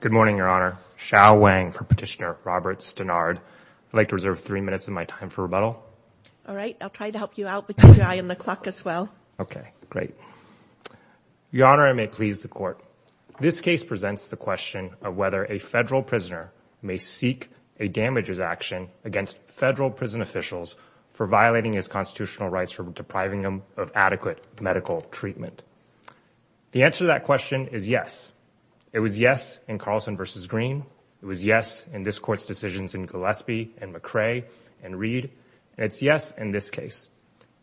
Good morning, Your Honor. Shao Wang for Petitioner Robert Stanard. I'd like to reserve three minutes of my time for rebuttal. All right. I'll try to help you out with your eye on the clock as well. Okay. Great. Your Honor, I may please the Court. This case presents the question of whether a federal prisoner may seek a damages action against federal prison officials for violating his constitutional rights for depriving them of adequate medical treatment. The answer to that question is yes. It was yes in Carlson v. Green. It was yes in this Court's decisions in Gillespie and McCrae and Reed. It's yes in this case.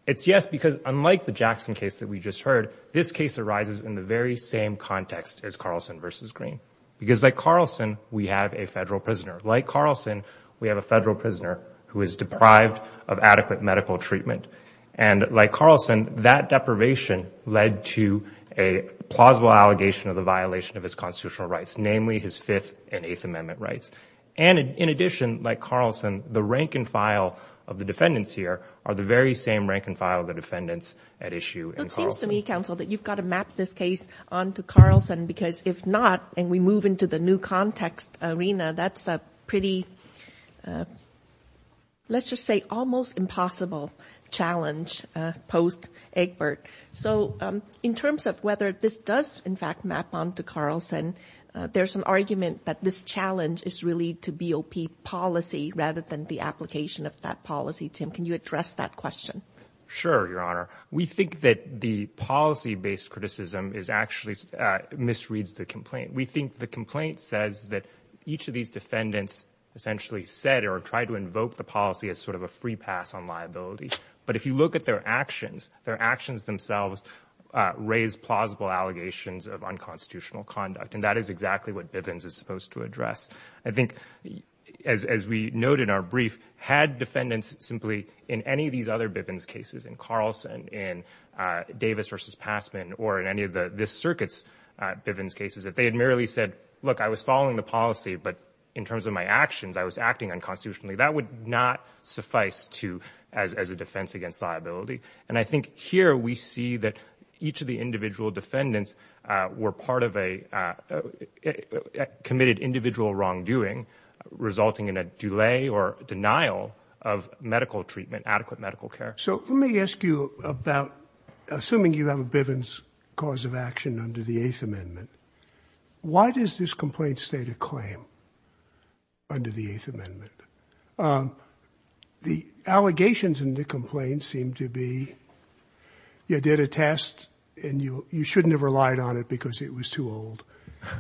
It's yes because unlike the Jackson case that we just heard, this case arises in the very same context as Carlson v. Green. Because like Carlson, we have a federal prisoner. Like Carlson, we have a federal prisoner who is deprived of adequate medical treatment. And like Carlson, that deprivation led to a plausible allegation of the violation of his constitutional rights, namely his Fifth and Eighth Amendment rights. And in addition, like Carlson, the rank and file of the defendants here are the very same rank and file of the defendants at issue in Carlson. It seems to me, Counsel, that you've got to map this case onto Carlson because if not, and we move into the new context arena, that's a pretty, let's just say almost impossible challenge post-Eggbert. So in terms of whether this does, in fact, map onto Carlson, there's an argument that this challenge is really to BOP policy rather than the application of that policy. Tim, can you address that question? Sure, Your Honor. We think that the policy-based criticism actually misreads the complaint. We think the complaint says that each of these defendants essentially said or tried to invoke the policy as sort of a free pass on liability. But if you look at their actions, their actions themselves raise plausible allegations of unconstitutional conduct. And that is exactly what Bivens is supposed to address. I think, as we note in our brief, had defendants simply, in any of these other Bivens cases, in Carlson, in Davis versus Passman, or in any of this circuit's Bivens cases, if they had merely said, look, I was following the policy, but in terms of my actions, I was not sufficed to, as a defense against liability. And I think here we see that each of the individual defendants were part of a committed individual wrongdoing resulting in a delay or denial of medical treatment, adequate medical care. So let me ask you about, assuming you have a Bivens cause of action under the Eighth Amendment, why does this complaint state a claim under the Eighth Amendment? The allegations in the complaint seem to be, you did a test and you shouldn't have relied on it because it was too old.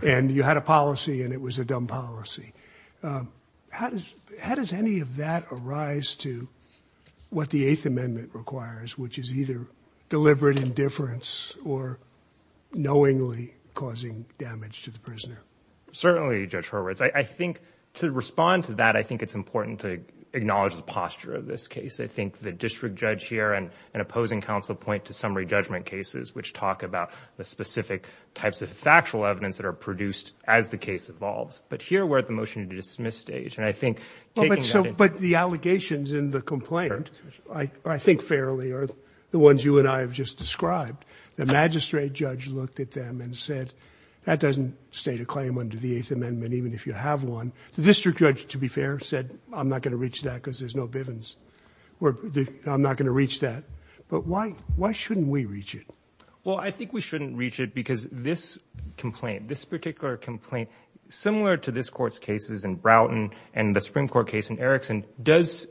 And you had a policy and it was a dumb policy. How does any of that arise to what the Eighth Amendment requires, which is either deliberate indifference or knowingly causing damage to the prisoner? Certainly, Judge Horwitz. I think to respond to that, I think it's important to acknowledge the posture of this case. I think the district judge here and an opposing counsel point to summary judgment cases, which talk about the specific types of factual evidence that are produced as the case evolves. But here we're at the motion to dismiss stage, and I think taking that... But the allegations in the complaint, I think fairly, are the ones you and I have just described. The magistrate judge looked at them and said, that doesn't state a claim under the Eighth Amendment, even if you have one. The district judge, to be fair, said, I'm not going to reach that because there's no Bivens. I'm not going to reach that. But why shouldn't we reach it? Well, I think we shouldn't reach it because this complaint, this particular complaint, similar to this court's cases in Broughton and the Supreme Court case in Erickson, does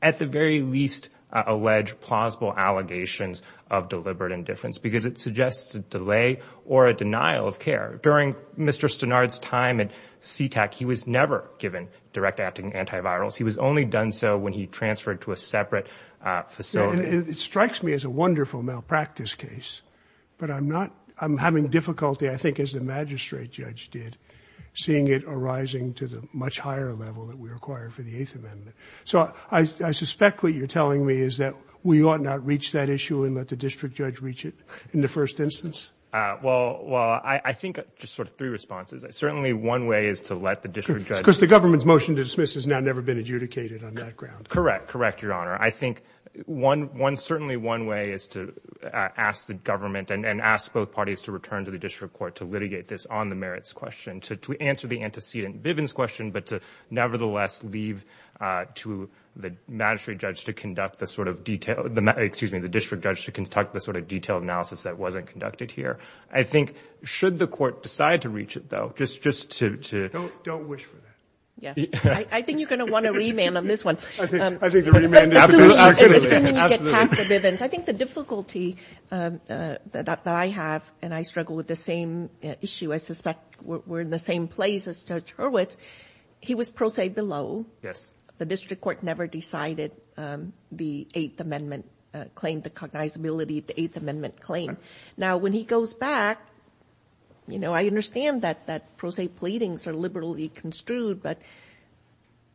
at the very least allege plausible allegations of deliberate indifference because it suggests a delay or a denial of care. During Mr. Stenard's time at Sea-Tac, he was never given direct acting antivirals. He was only done so when he transferred to a separate facility. It strikes me as a wonderful malpractice case, but I'm not... I'm having difficulty, I think, as the magistrate judge did, seeing it arising to the much higher level that we require for the Eighth Amendment. So I suspect what you're telling me is that we ought not reach that issue and let the district judge reach it in the first instance? Well, I think just sort of three responses. Certainly one way is to let the district judge... Because the government's motion to dismiss has now never been adjudicated on that ground. Correct, correct, Your Honor. I think one, certainly one way is to ask the government and ask both parties to return to the district court to litigate this on the merits question, to answer the antecedent Bivens question, but to nevertheless leave to the magistrate judge to conduct the sort of detailed... excuse me, the district judge to conduct the sort of detailed analysis that wasn't conducted here. I think should the court decide to reach it, though, just to... Don't wish for that. Yeah. I think you're going to want a remand on this one. I think the remand... Absolutely. Absolutely. Assuming you get past the Bivens. I think the difficulty that I have, and I struggle with the same issue, I suspect we're in the same place as Judge Hurwitz. He was pro se below. Yes. The district court never decided the Eighth Amendment claim, the cognizability of the term. Now, when he goes back, I understand that pro se pleadings are liberally construed, but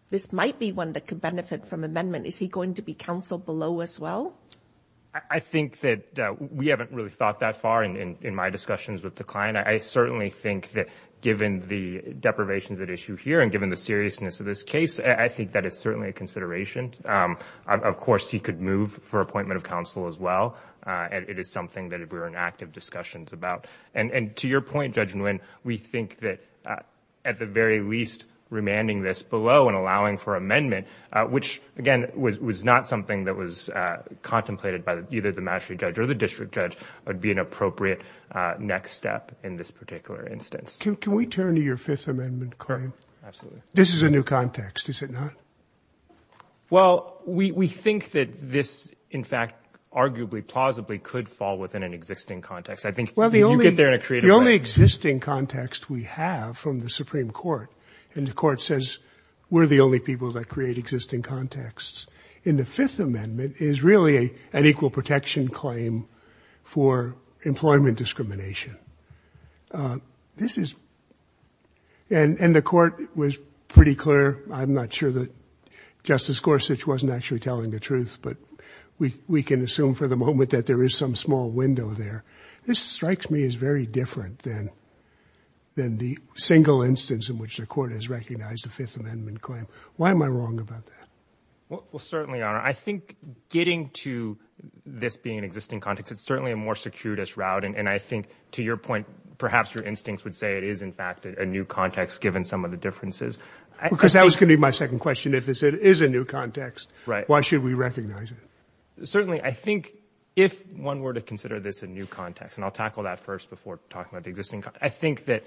this might be one that could benefit from amendment. Is he going to be counseled below as well? I think that we haven't really thought that far in my discussions with the client. I certainly think that given the deprivations at issue here and given the seriousness of this case, I think that is certainly a consideration. Of course, he could move for appointment of counsel as well. It is something that we're in active discussions about. To your point, Judge Nguyen, we think that at the very least, remanding this below and allowing for amendment, which again, was not something that was contemplated by either the mastery judge or the district judge, would be an appropriate next step in this particular instance. Can we turn to your Fifth Amendment claim? Absolutely. This is a new context, is it not? Well, we think that this, in fact, arguably, plausibly could fall within an existing context. I think you get there in a creative way. The only existing context we have from the Supreme Court, and the Court says we're the only people that create existing contexts in the Fifth Amendment, is really an equal protection claim for employment discrimination. The Court was pretty clear. I'm not sure that Justice Gorsuch wasn't actually telling the truth, but we can assume for the moment that there is some small window there. This strikes me as very different than the single instance in which the Court has recognized the Fifth Amendment claim. Why am I wrong about that? Well, certainly, Your Honor. I think getting to this being an existing context, it's certainly a more circuitous route. I think, to your point, perhaps your instincts would say it is, in fact, a new context given some of the differences. Because that was going to be my second question, if it is a new context, why should we recognize it? Certainly. I think if one were to consider this a new context, and I'll tackle that first before talking about the existing context. I think that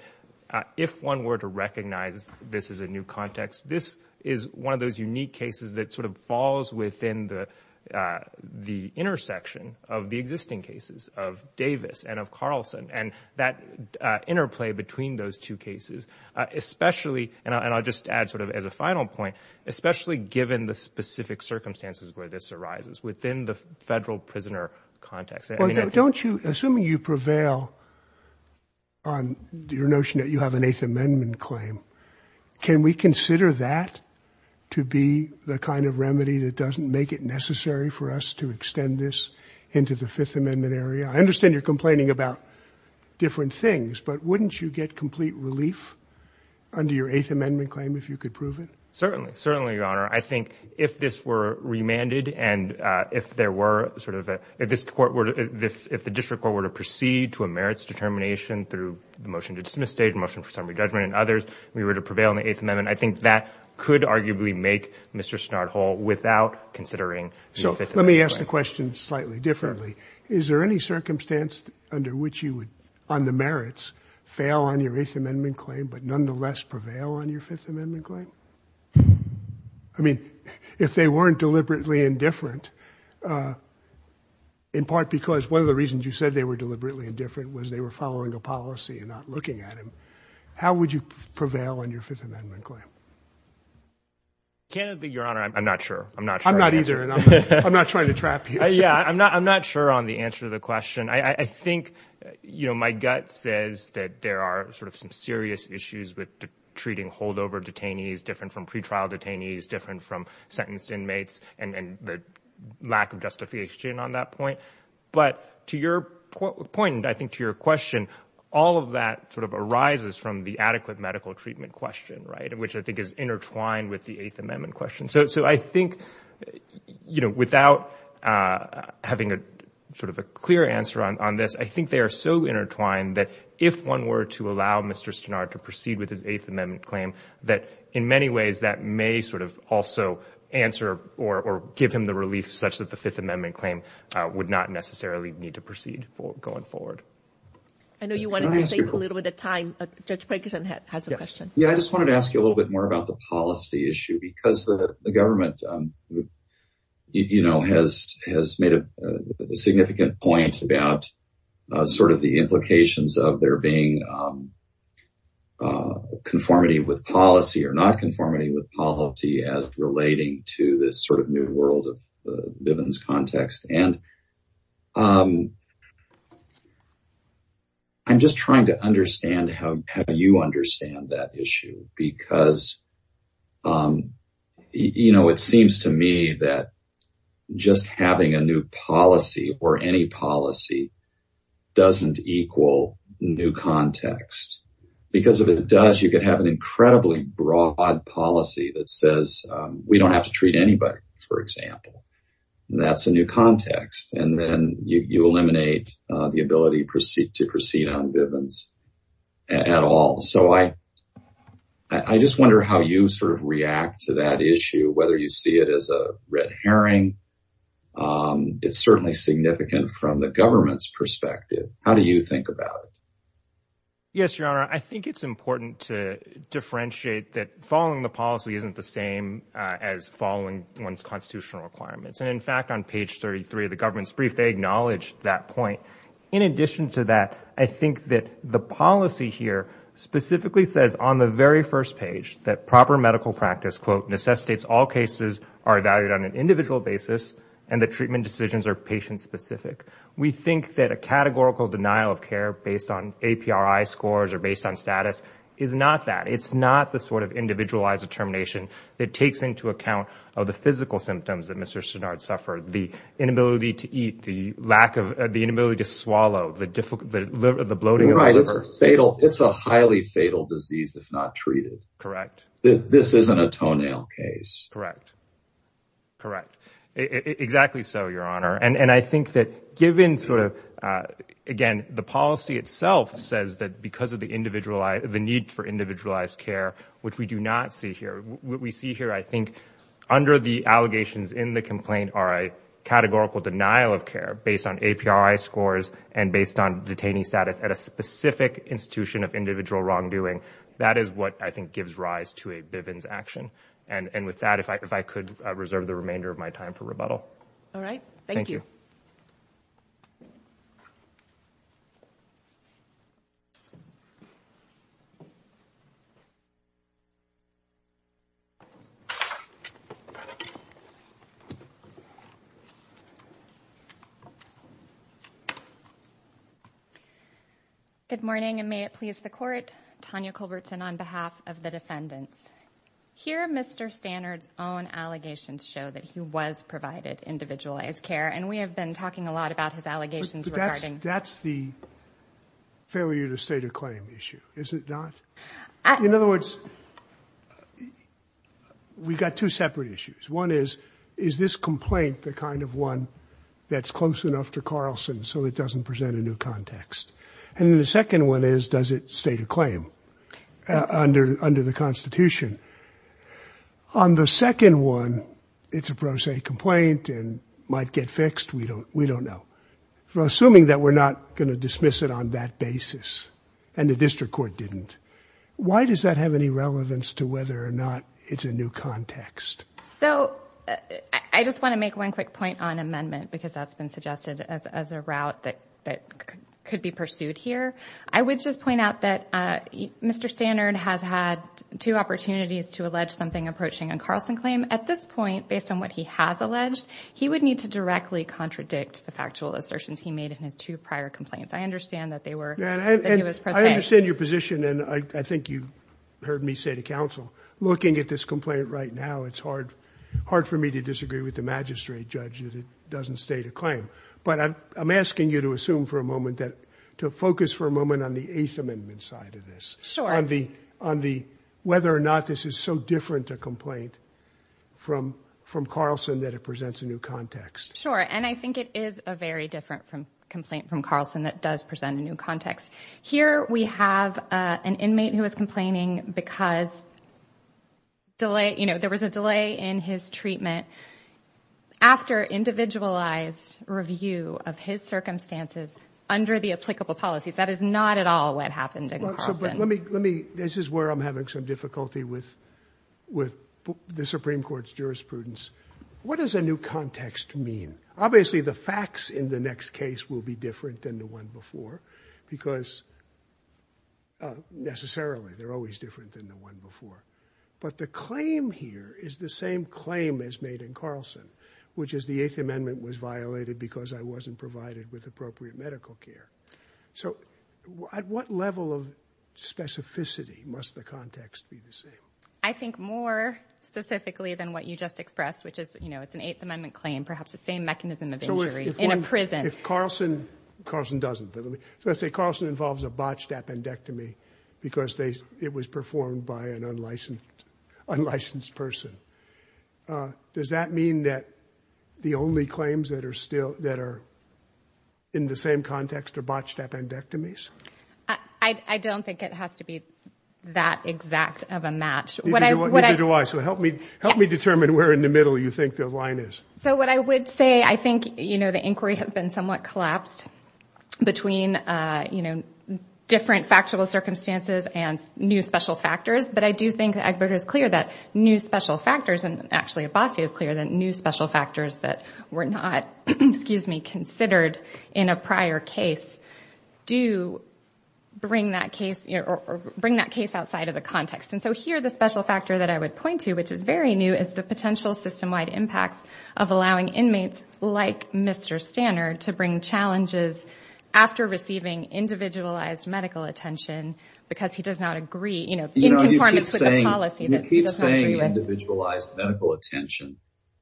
if one were to recognize this as a new context, this is one of those unique cases that sort of falls within the intersection of the existing cases of Davis and of Carlson, and that interplay between those two cases, especially, and I'll just add sort of as a final point, especially given the specific circumstances where this arises within the federal prisoner context. Don't you, assuming you prevail on your notion that you have an Eighth Amendment claim, can we consider that to be the kind of remedy that doesn't make it necessary for us to extend this into the Fifth Amendment area? I understand you're complaining about different things, but wouldn't you get complete relief under your Eighth Amendment claim if you could prove it? Certainly. Certainly, Your Honor. I think if this were remanded and if there were sort of a, if this court were to, if motion for summary judgment and others, if we were to prevail on the Eighth Amendment, I think that could arguably make Mr. Snard whole without considering the Fifth Amendment claim. So let me ask the question slightly differently. Is there any circumstance under which you would, on the merits, fail on your Eighth Amendment claim, but nonetheless prevail on your Fifth Amendment claim? I mean, if they weren't deliberately indifferent, in part because one of the reasons you said they were deliberately indifferent was they were following a policy and not looking at How would you prevail on your Fifth Amendment claim? Candidly, Your Honor, I'm not sure. I'm not sure. I'm not either. I'm not trying to trap you. Yeah. I'm not, I'm not sure on the answer to the question. I think, you know, my gut says that there are sort of some serious issues with treating holdover detainees, different from pretrial detainees, different from sentenced inmates and the lack of justification on that point. But to your point, and I think to your question, all of that sort of arises from the adequate medical treatment question, right, which I think is intertwined with the Eighth Amendment question. So I think, you know, without having a sort of a clear answer on this, I think they are so intertwined that if one were to allow Mr. Snard to proceed with his Eighth Amendment claim, that in many ways that may sort of also answer or give him the relief such that the Fifth Amendment claim would not necessarily need to proceed going forward. I know you wanted to save a little bit of time, but Judge Parkinson has a question. Yeah. I just wanted to ask you a little bit more about the policy issue because the government, you know, has made a significant point about sort of the implications of there being conformity with policy or not conformity with policy as relating to this sort of new world of living conditions context. And I'm just trying to understand how you understand that issue because, you know, it seems to me that just having a new policy or any policy doesn't equal new context. Because if it does, you could have an incredibly broad policy that says we don't have to treat anybody. For example, that's a new context. And then you eliminate the ability to proceed on Bivens at all. So I just wonder how you sort of react to that issue, whether you see it as a red herring. It's certainly significant from the government's perspective. How do you think about it? Yes, Your Honor, I think it's important to differentiate that following the policy isn't the same as following one's constitutional requirements. And in fact, on page 33 of the government's brief, they acknowledge that point. In addition to that, I think that the policy here specifically says on the very first page that proper medical practice, quote, necessitates all cases are evaluated on an individual basis and the treatment decisions are patient-specific. We think that a categorical denial of care based on APRI scores or based on status is not that. It takes into account the physical symptoms that Mr. Sennard suffered, the inability to eat, the inability to swallow, the bloating of the liver. It's a highly fatal disease if not treated. This isn't a toenail case. Correct. Exactly so, Your Honor. And I think that given, again, the policy itself says that because of the need for individualized care, which we do not see here, what we see here, I think, under the allegations in the complaint are a categorical denial of care based on APRI scores and based on detainee status at a specific institution of individual wrongdoing. That is what I think gives rise to a Bivens action. And with that, if I could reserve the remainder of my time for rebuttal. All right. Thank you. Good morning, and may it please the court, Tanya Culbertson on behalf of the defendants. Here Mr. Sennard's own allegations show that he was provided individualized care, and we have been talking a lot about his allegations regarding But that's the failure to state a claim issue, is it not? In other words, we've got two separate issues. One is, is this complaint the kind of one that's close enough to Carlson so it doesn't present a new context? And then the second one is, does it state a claim under the Constitution? On the second one, it's a pro se complaint and might get fixed. We don't know. Assuming that we're not going to dismiss it on that basis, and the district court didn't, why does that have any relevance to whether or not it's a new context? So I just want to make one quick point on amendment because that's been suggested as a route that could be pursued here. I would just point out that Mr. Sennard has had two opportunities to allege something approaching a Carlson claim. At this point, based on what he has alleged, he would need to directly contradict the factual assertions he made in his two prior complaints. I understand that they were... I understand your position, and I think you heard me say to counsel, looking at this complaint right now, it's hard for me to disagree with the magistrate judge that it doesn't state a claim. But I'm asking you to assume for a moment, to focus for a moment on the Eighth Amendment side of this. Sure. On the whether or not this is so different a complaint from Carlson that it presents a new context. Sure. And I think it is a very different complaint from Carlson that does present a new context. Here we have an inmate who is complaining because there was a delay in his treatment after individualized review of his circumstances under the applicable policies. That is not at all what happened in Carlson. This is where I'm having some difficulty with the Supreme Court's jurisprudence. What does a new context mean? Obviously, the facts in the next case will be different than the one before because... necessarily, they're always different than the one before. But the claim here is the same claim as made in Carlson, which is the Eighth Amendment was violated because I wasn't provided with appropriate medical care. So at what level of specificity must the context be the same? I think more specifically than what you just expressed, which is, you know, it's an Eighth Amendment claim, perhaps the same mechanism of injury in a prison. If Carlson... Carlson doesn't, but let's say Carlson involves a botched appendectomy because it was performed by an unlicensed person. Does that mean that the only claims that are in the same context are botched appendectomies? I don't think it has to be that exact of a match. Neither do I. So help me determine where in the middle you think the line is. So what I would say, I think, you know, the inquiry has been somewhat collapsed between, you know, different factual circumstances and new special factors. But I do think that it is clear that new special factors, and actually Abbasi is clear that new special factors that were not, excuse me, considered in a prior case do bring that case... bring that case outside of the context. And so here, the special factor that I would point to, which is very new, is the potential system-wide impacts of allowing inmates like Mr. Stannard to bring challenges after receiving individualized medical attention because he does not agree, you know, in conformance with the policy that he does not agree with. You know, you keep saying individualized medical attention.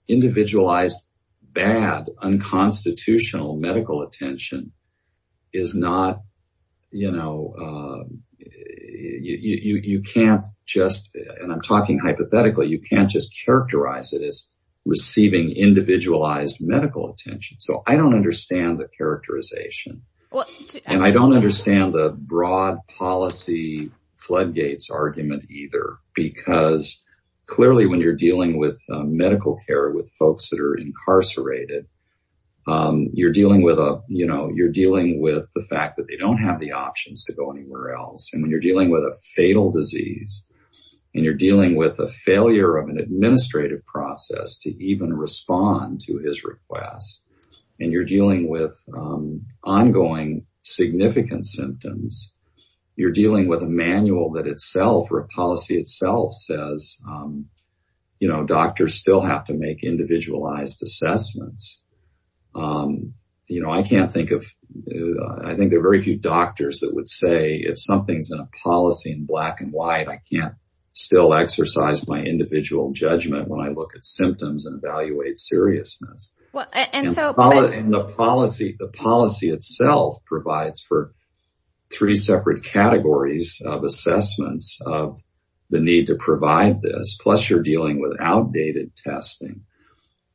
Individualized, bad, unconstitutional medical attention is not, you know, you can't just, and I'm talking hypothetically, you can't just characterize it as receiving individualized medical attention. So I don't understand the characterization. And I don't understand the broad policy floodgates argument either because clearly when you're dealing with medical care with folks that are incarcerated, you're dealing with a, you know, you're dealing with the fact that they don't have the options to go anywhere else. And when you're dealing with a fatal disease and you're dealing with a failure of an administrative process to even respond to his request and you're dealing with ongoing significant symptoms, you're dealing with a manual that itself or a policy itself says, you know, doctors still have to make individualized assessments. You know, I can't think of... I think there are very few doctors that would say if something's in a policy in black and white, I can't still exercise my individual judgment when I look at symptoms and evaluate seriousness. And the policy itself provides for three separate categories of assessments of the need to provide this. Plus you're dealing with outdated testing.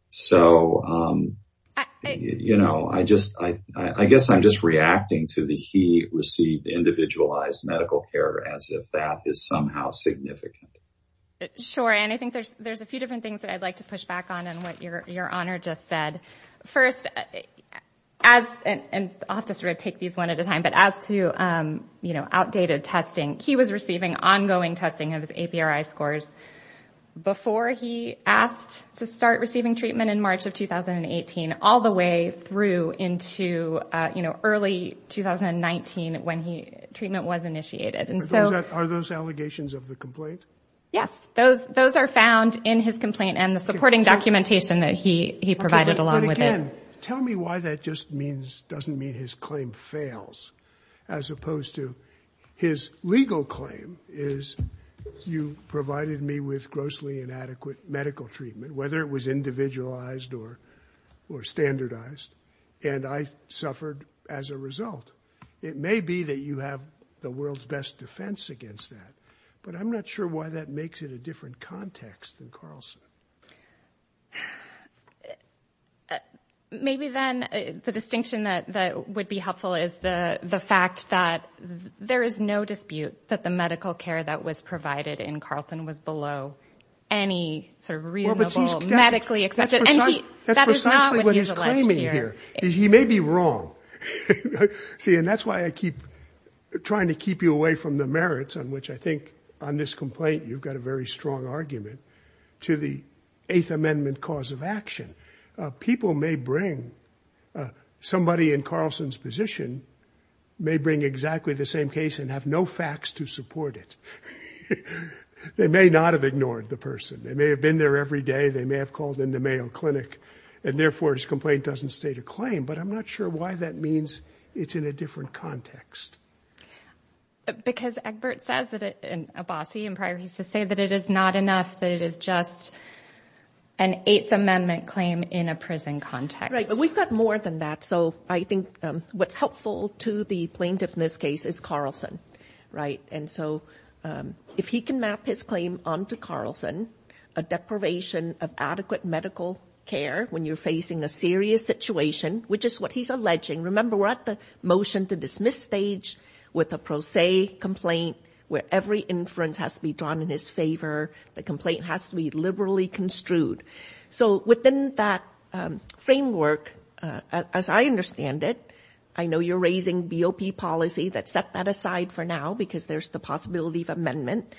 So, you know, I guess I'm just reacting to the he received individualized medical care as if that is somehow significant. Sure. And I think there's a few different things that I'd like to push back on and what your honor just said. First, and I'll have to sort of take these one at a time, but as to, you know, outdated testing, he was receiving ongoing testing of his APRI scores before he asked to start receiving treatment in March of 2018, all the way through into early 2019 when treatment was initiated. And so... Are those allegations of the complaint? Yes, those are found in his complaint and the supporting documentation that he provided along with it. Again, tell me why that just means, doesn't mean his claim fails as opposed to his legal claim is you provided me with grossly inadequate medical treatment, whether it was individualized or, or standardized. And I suffered as a result. It may be that you have the world's best defense against that, but I'm not sure why that makes it a different context than Carlson. Maybe then the distinction that would be helpful is the fact that there is no dispute that the medical care that was provided in Carlson was below any sort of reasonable medically accepted... That's precisely what he's claiming here. He may be wrong. See, and that's why I keep trying to keep you away from the merits on which I think on this complaint, you've got a very strong argument to the eighth amendment cause of action. People may bring, somebody in Carlson's position may bring exactly the same case and have no facts to support it. They may not have ignored the person. They may have been there every day. They may have called in the Mayo Clinic and therefore his complaint doesn't state a claim, but I'm not sure why that means it's in a different context. Because Egbert says that it, and Abbasi in prior, he used to say that it is not enough, that it is just an eighth amendment claim in a prison context. Right, but we've got more than that. So I think what's helpful to the plaintiff in this case is Carlson, right? And so if he can map his claim onto Carlson, a deprivation of adequate medical care when you're facing a serious situation, which is what he's alleging, remember what the motion to dismiss stage with a pro se complaint where every inference has to be drawn in his favor, the complaint has to be liberally construed. So within that framework, as I understand it, I know you're raising BOP policy that set that aside for now because there's the possibility of amendment.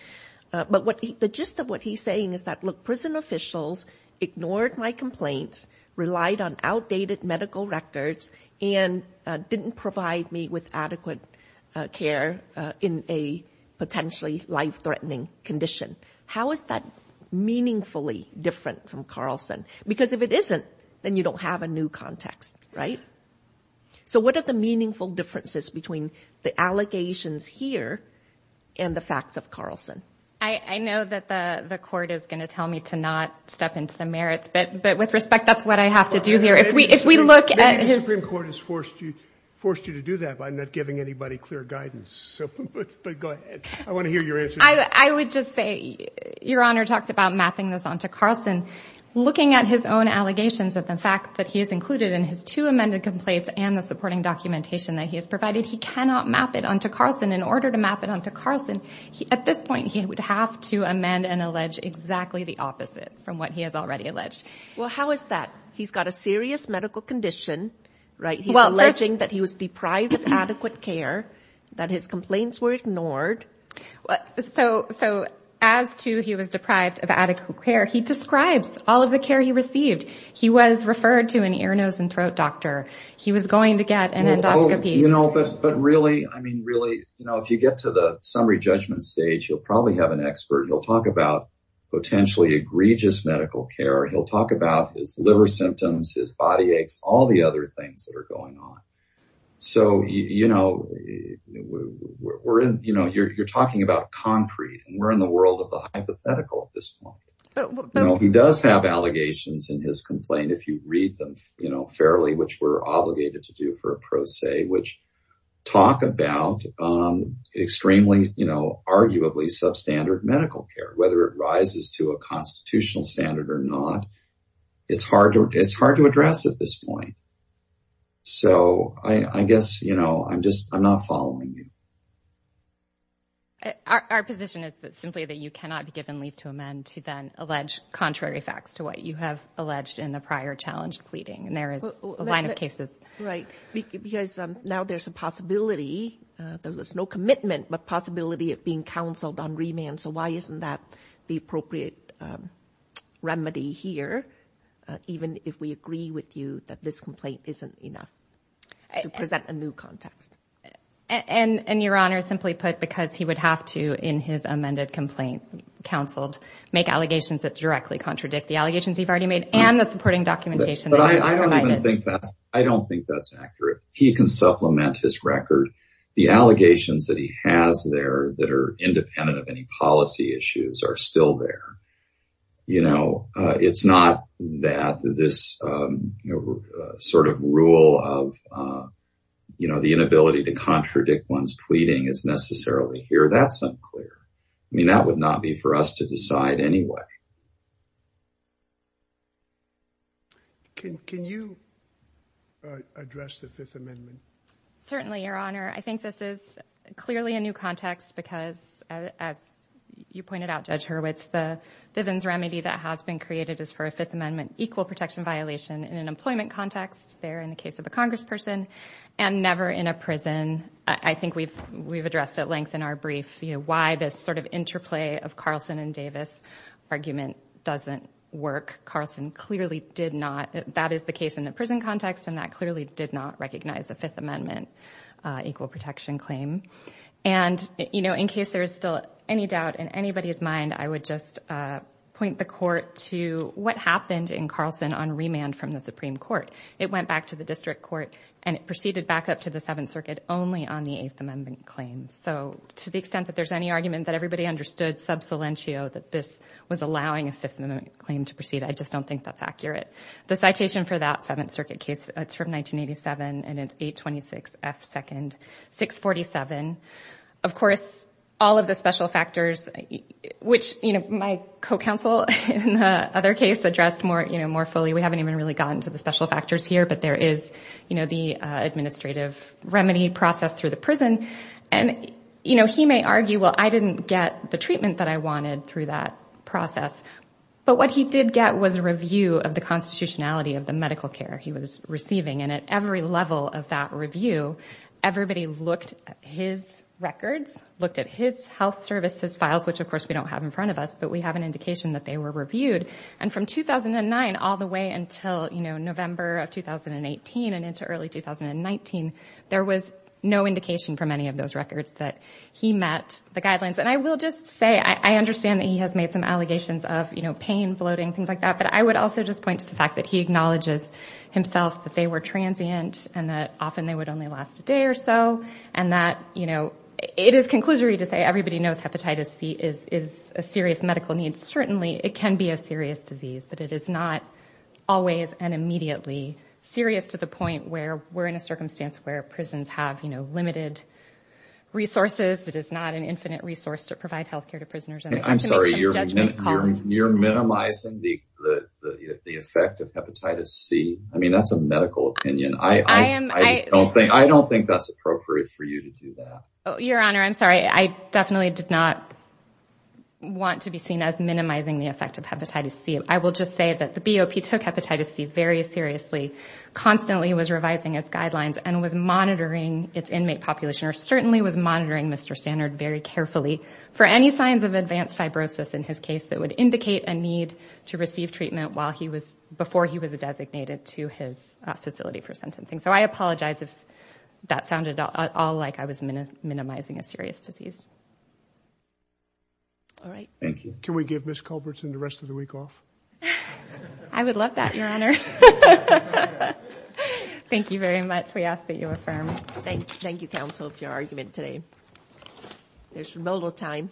But the gist of what he's saying is that look, prison officials ignored my complaints, relied on outdated medical records, and didn't provide me with adequate care in a potentially life-threatening condition. How is that meaningfully different from Carlson? Because if it isn't, then you don't have a new context, right? So what are the meaningful differences between the allegations here and the facts of Carlson? I know that the court is going to tell me to not step into the merits, but with respect, that's what I have to do here. If we look at his- Maybe the Supreme Court has forced you to do that by not giving anybody clear guidance. So go ahead. I want to hear your answer. I would just say, Your Honor talked about mapping this onto Carlson. Looking at his own allegations of the fact that he is included in his two amended complaints and the supporting documentation that he has provided, he cannot map it onto Carlson. In order to map it onto Carlson, at this point, he would have to amend and allege exactly the opposite from what he has already alleged. Well, how is that? He's got a serious medical condition, right? He's alleging that he was deprived of adequate care, that his complaints were ignored. So as to he was deprived of adequate care, he describes all of the care he received. He was referred to an ear, nose, and throat doctor. He was going to get an endoscopy. But really, I mean, really, if you get to the summary judgment stage, you'll probably have an expert. He'll talk about potentially egregious medical care. He'll talk about his liver symptoms, his body aches, all the other things that are going on. So, you know, we're in, you know, you're talking about concrete and we're in the world of the hypothetical at this point. He does have allegations in his complaint, if you read them, you know, fairly, which we're obligated to do for a pro se, which talk about extremely, you know, arguably substandard medical care, whether it rises to a constitutional standard or not. It's hard to, it's hard to address at this point. So I guess, you know, I'm just, I'm not following you. Our position is that simply that you cannot be given leave to amend to then allege contrary facts to what you have alleged in the prior challenged pleading. And there is a line of cases. Right. Because now there's a possibility, there's no commitment, but possibility of being counseled on remand. So why isn't that the appropriate remedy here? Even if we agree with you that this complaint isn't enough to present a new context. And your Honor, simply put, because he would have to, in his amended complaint, counseled, make allegations that directly contradict the allegations he's already made and the supporting documentation. But I don't even think that's, I don't think that's accurate. He can supplement his record. The allegations that he has there that are independent of any policy issues are still there. You know, it's not that this sort of rule of, you know, the inability to contradict one's pleading is necessarily here. That's unclear. I mean, that would not be for us to decide anyway. Can you address the Fifth Amendment? Certainly, Your Honor. I think this is clearly a new context because, as you pointed out, Judge Hurwitz, the Vivens remedy that has been created is for a Fifth Amendment equal protection violation in an employment context, there in the case of a congressperson, and never in a prison. I think we've addressed at length in our brief, you know, why this sort of interplay of Carlson and Davis argument doesn't work. Carlson clearly did not, that is the case in the prison context, and that clearly did not recognize the Fifth Amendment equal protection claim. And, you know, in case there is still any doubt in anybody's mind, I would just point the court to what happened in Carlson on remand from the Supreme Court. It went back to the district court and it proceeded back up to the Seventh Circuit only on the Eighth Amendment claim. So, to the extent that there's any argument that everybody understood sub silentio that this was allowing a Fifth Amendment claim to proceed, I just don't think that's accurate. The citation for that Seventh Circuit case, it's from 1987, and it's 826 F. 2nd 647. Of course, all of the special factors, which, you know, my co-counsel in the other case addressed more, you know, more fully. We haven't even really gotten to the special factors here, but there is, you know, the administrative remedy process through the prison, and, you know, he may argue, well, I didn't get the treatment that I wanted through that process. But what he did get was a review of the constitutionality of the medical care he was receiving, and at every level of that review, everybody looked at his records, looked at his health services files, which, of course, we don't have in front of us, but we have an indication that they were reviewed. And from 2009 all the way until, you know, November of 2018 and into early 2019, there was no indication from any of those records that he met the guidelines. And I will just say, I understand that he has made some allegations of, you know, pain, bloating, things like that, but I would also just point to the fact that he acknowledges himself that they were transient and that often they would only last a day or so, and that, you know, it is conclusory to say everybody knows hepatitis C is a serious disease, but it is not always and immediately serious to the point where we're in a circumstance where prisons have, you know, limited resources. It is not an infinite resource to provide health care to prisoners. I'm sorry, you're minimizing the effect of hepatitis C. I mean, that's a medical opinion. I don't think that's appropriate for you to do that. Your Honor, I'm sorry. I definitely did not want to be seen as minimizing the effect of hepatitis C. I will just say that the BOP took hepatitis C very seriously, constantly was revising its guidelines, and was monitoring its inmate population, or certainly was monitoring Mr. Standard very carefully for any signs of advanced fibrosis in his case that would indicate a need to receive treatment while he was, before he was designated to his facility for sentencing. So I apologize if that sounded at all like I was minimizing a serious disease. All right. Thank you. Can we give Ms. Culbertson the rest of the week off? I would love that, Your Honor. Thank you very much. We ask that you affirm. Thank you, counsel, for your argument today. There's no more time.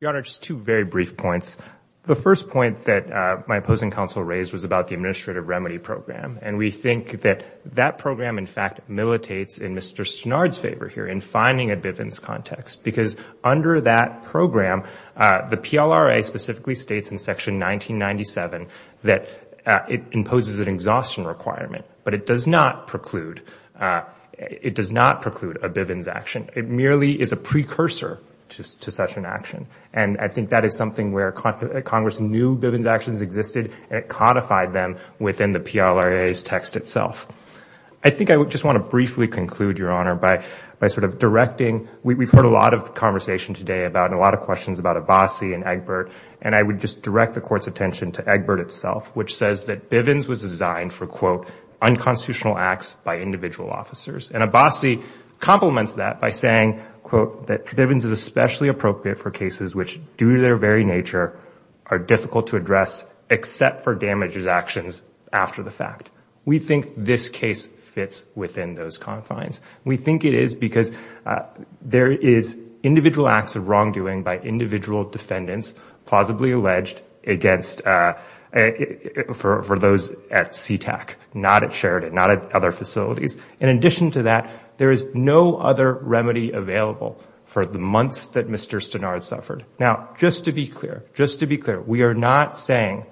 Your Honor, just two very brief points. The first point that my opposing counsel raised was about the Administrative Remedy Program. And we think that that program, in fact, militates in Mr. Stenard's favor here in finding a Bivens context. Because under that program, the PLRA specifically states in Section 1997 but it does not preclude, it does not preclude a Bivens action. It merely is a precursor to such an action. And I think that is something where Congress knew Bivens actions existed and it codified them within the PLRA's text itself. I think I just want to briefly conclude, Your Honor, by sort of directing, we've heard a lot of conversation today about, and a lot of questions about Abbasi and Egbert, and I would just direct the Court's attention to Egbert unconstitutional acts by individual officers. And Abbasi complements that by saying, quote, that Bivens is especially appropriate for cases which, due to their very nature, are difficult to address except for damages actions after the fact. We think this case fits within those confines. We think it is because there is individual acts of wrongdoing by Sheridan, not at other facilities. In addition to that, there is no other remedy available for the months that Mr. Stenard suffered. Now, just to be clear, just to be clear, we are not saying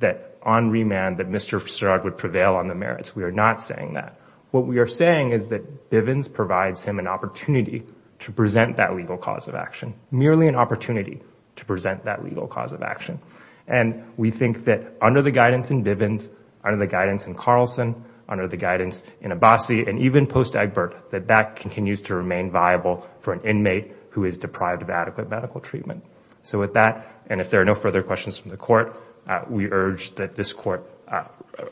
that on remand that Mr. Stenard would prevail on the merits. We are not saying that. What we are saying is that Bivens provides him an opportunity to present that legal cause of action. Merely an opportunity to present that legal cause of action. And we think that under the guidance in Bivens, under the guidance in Carlson, under the guidance in Abbasi, and even post-Egbert, that that continues to remain viable for an inmate who is deprived of adequate medical treatment. So with that, and if there are no further questions from the Court, we urge that this Court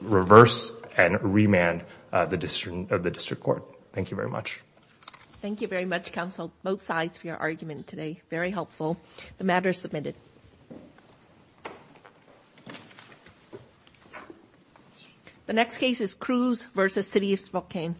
reverse and remand the District Court. Thank you very much. Thank you very much, counsel, both sides for your argument today. Very helpful. The matter is submitted. The next case is Cruz v. City of Spokane.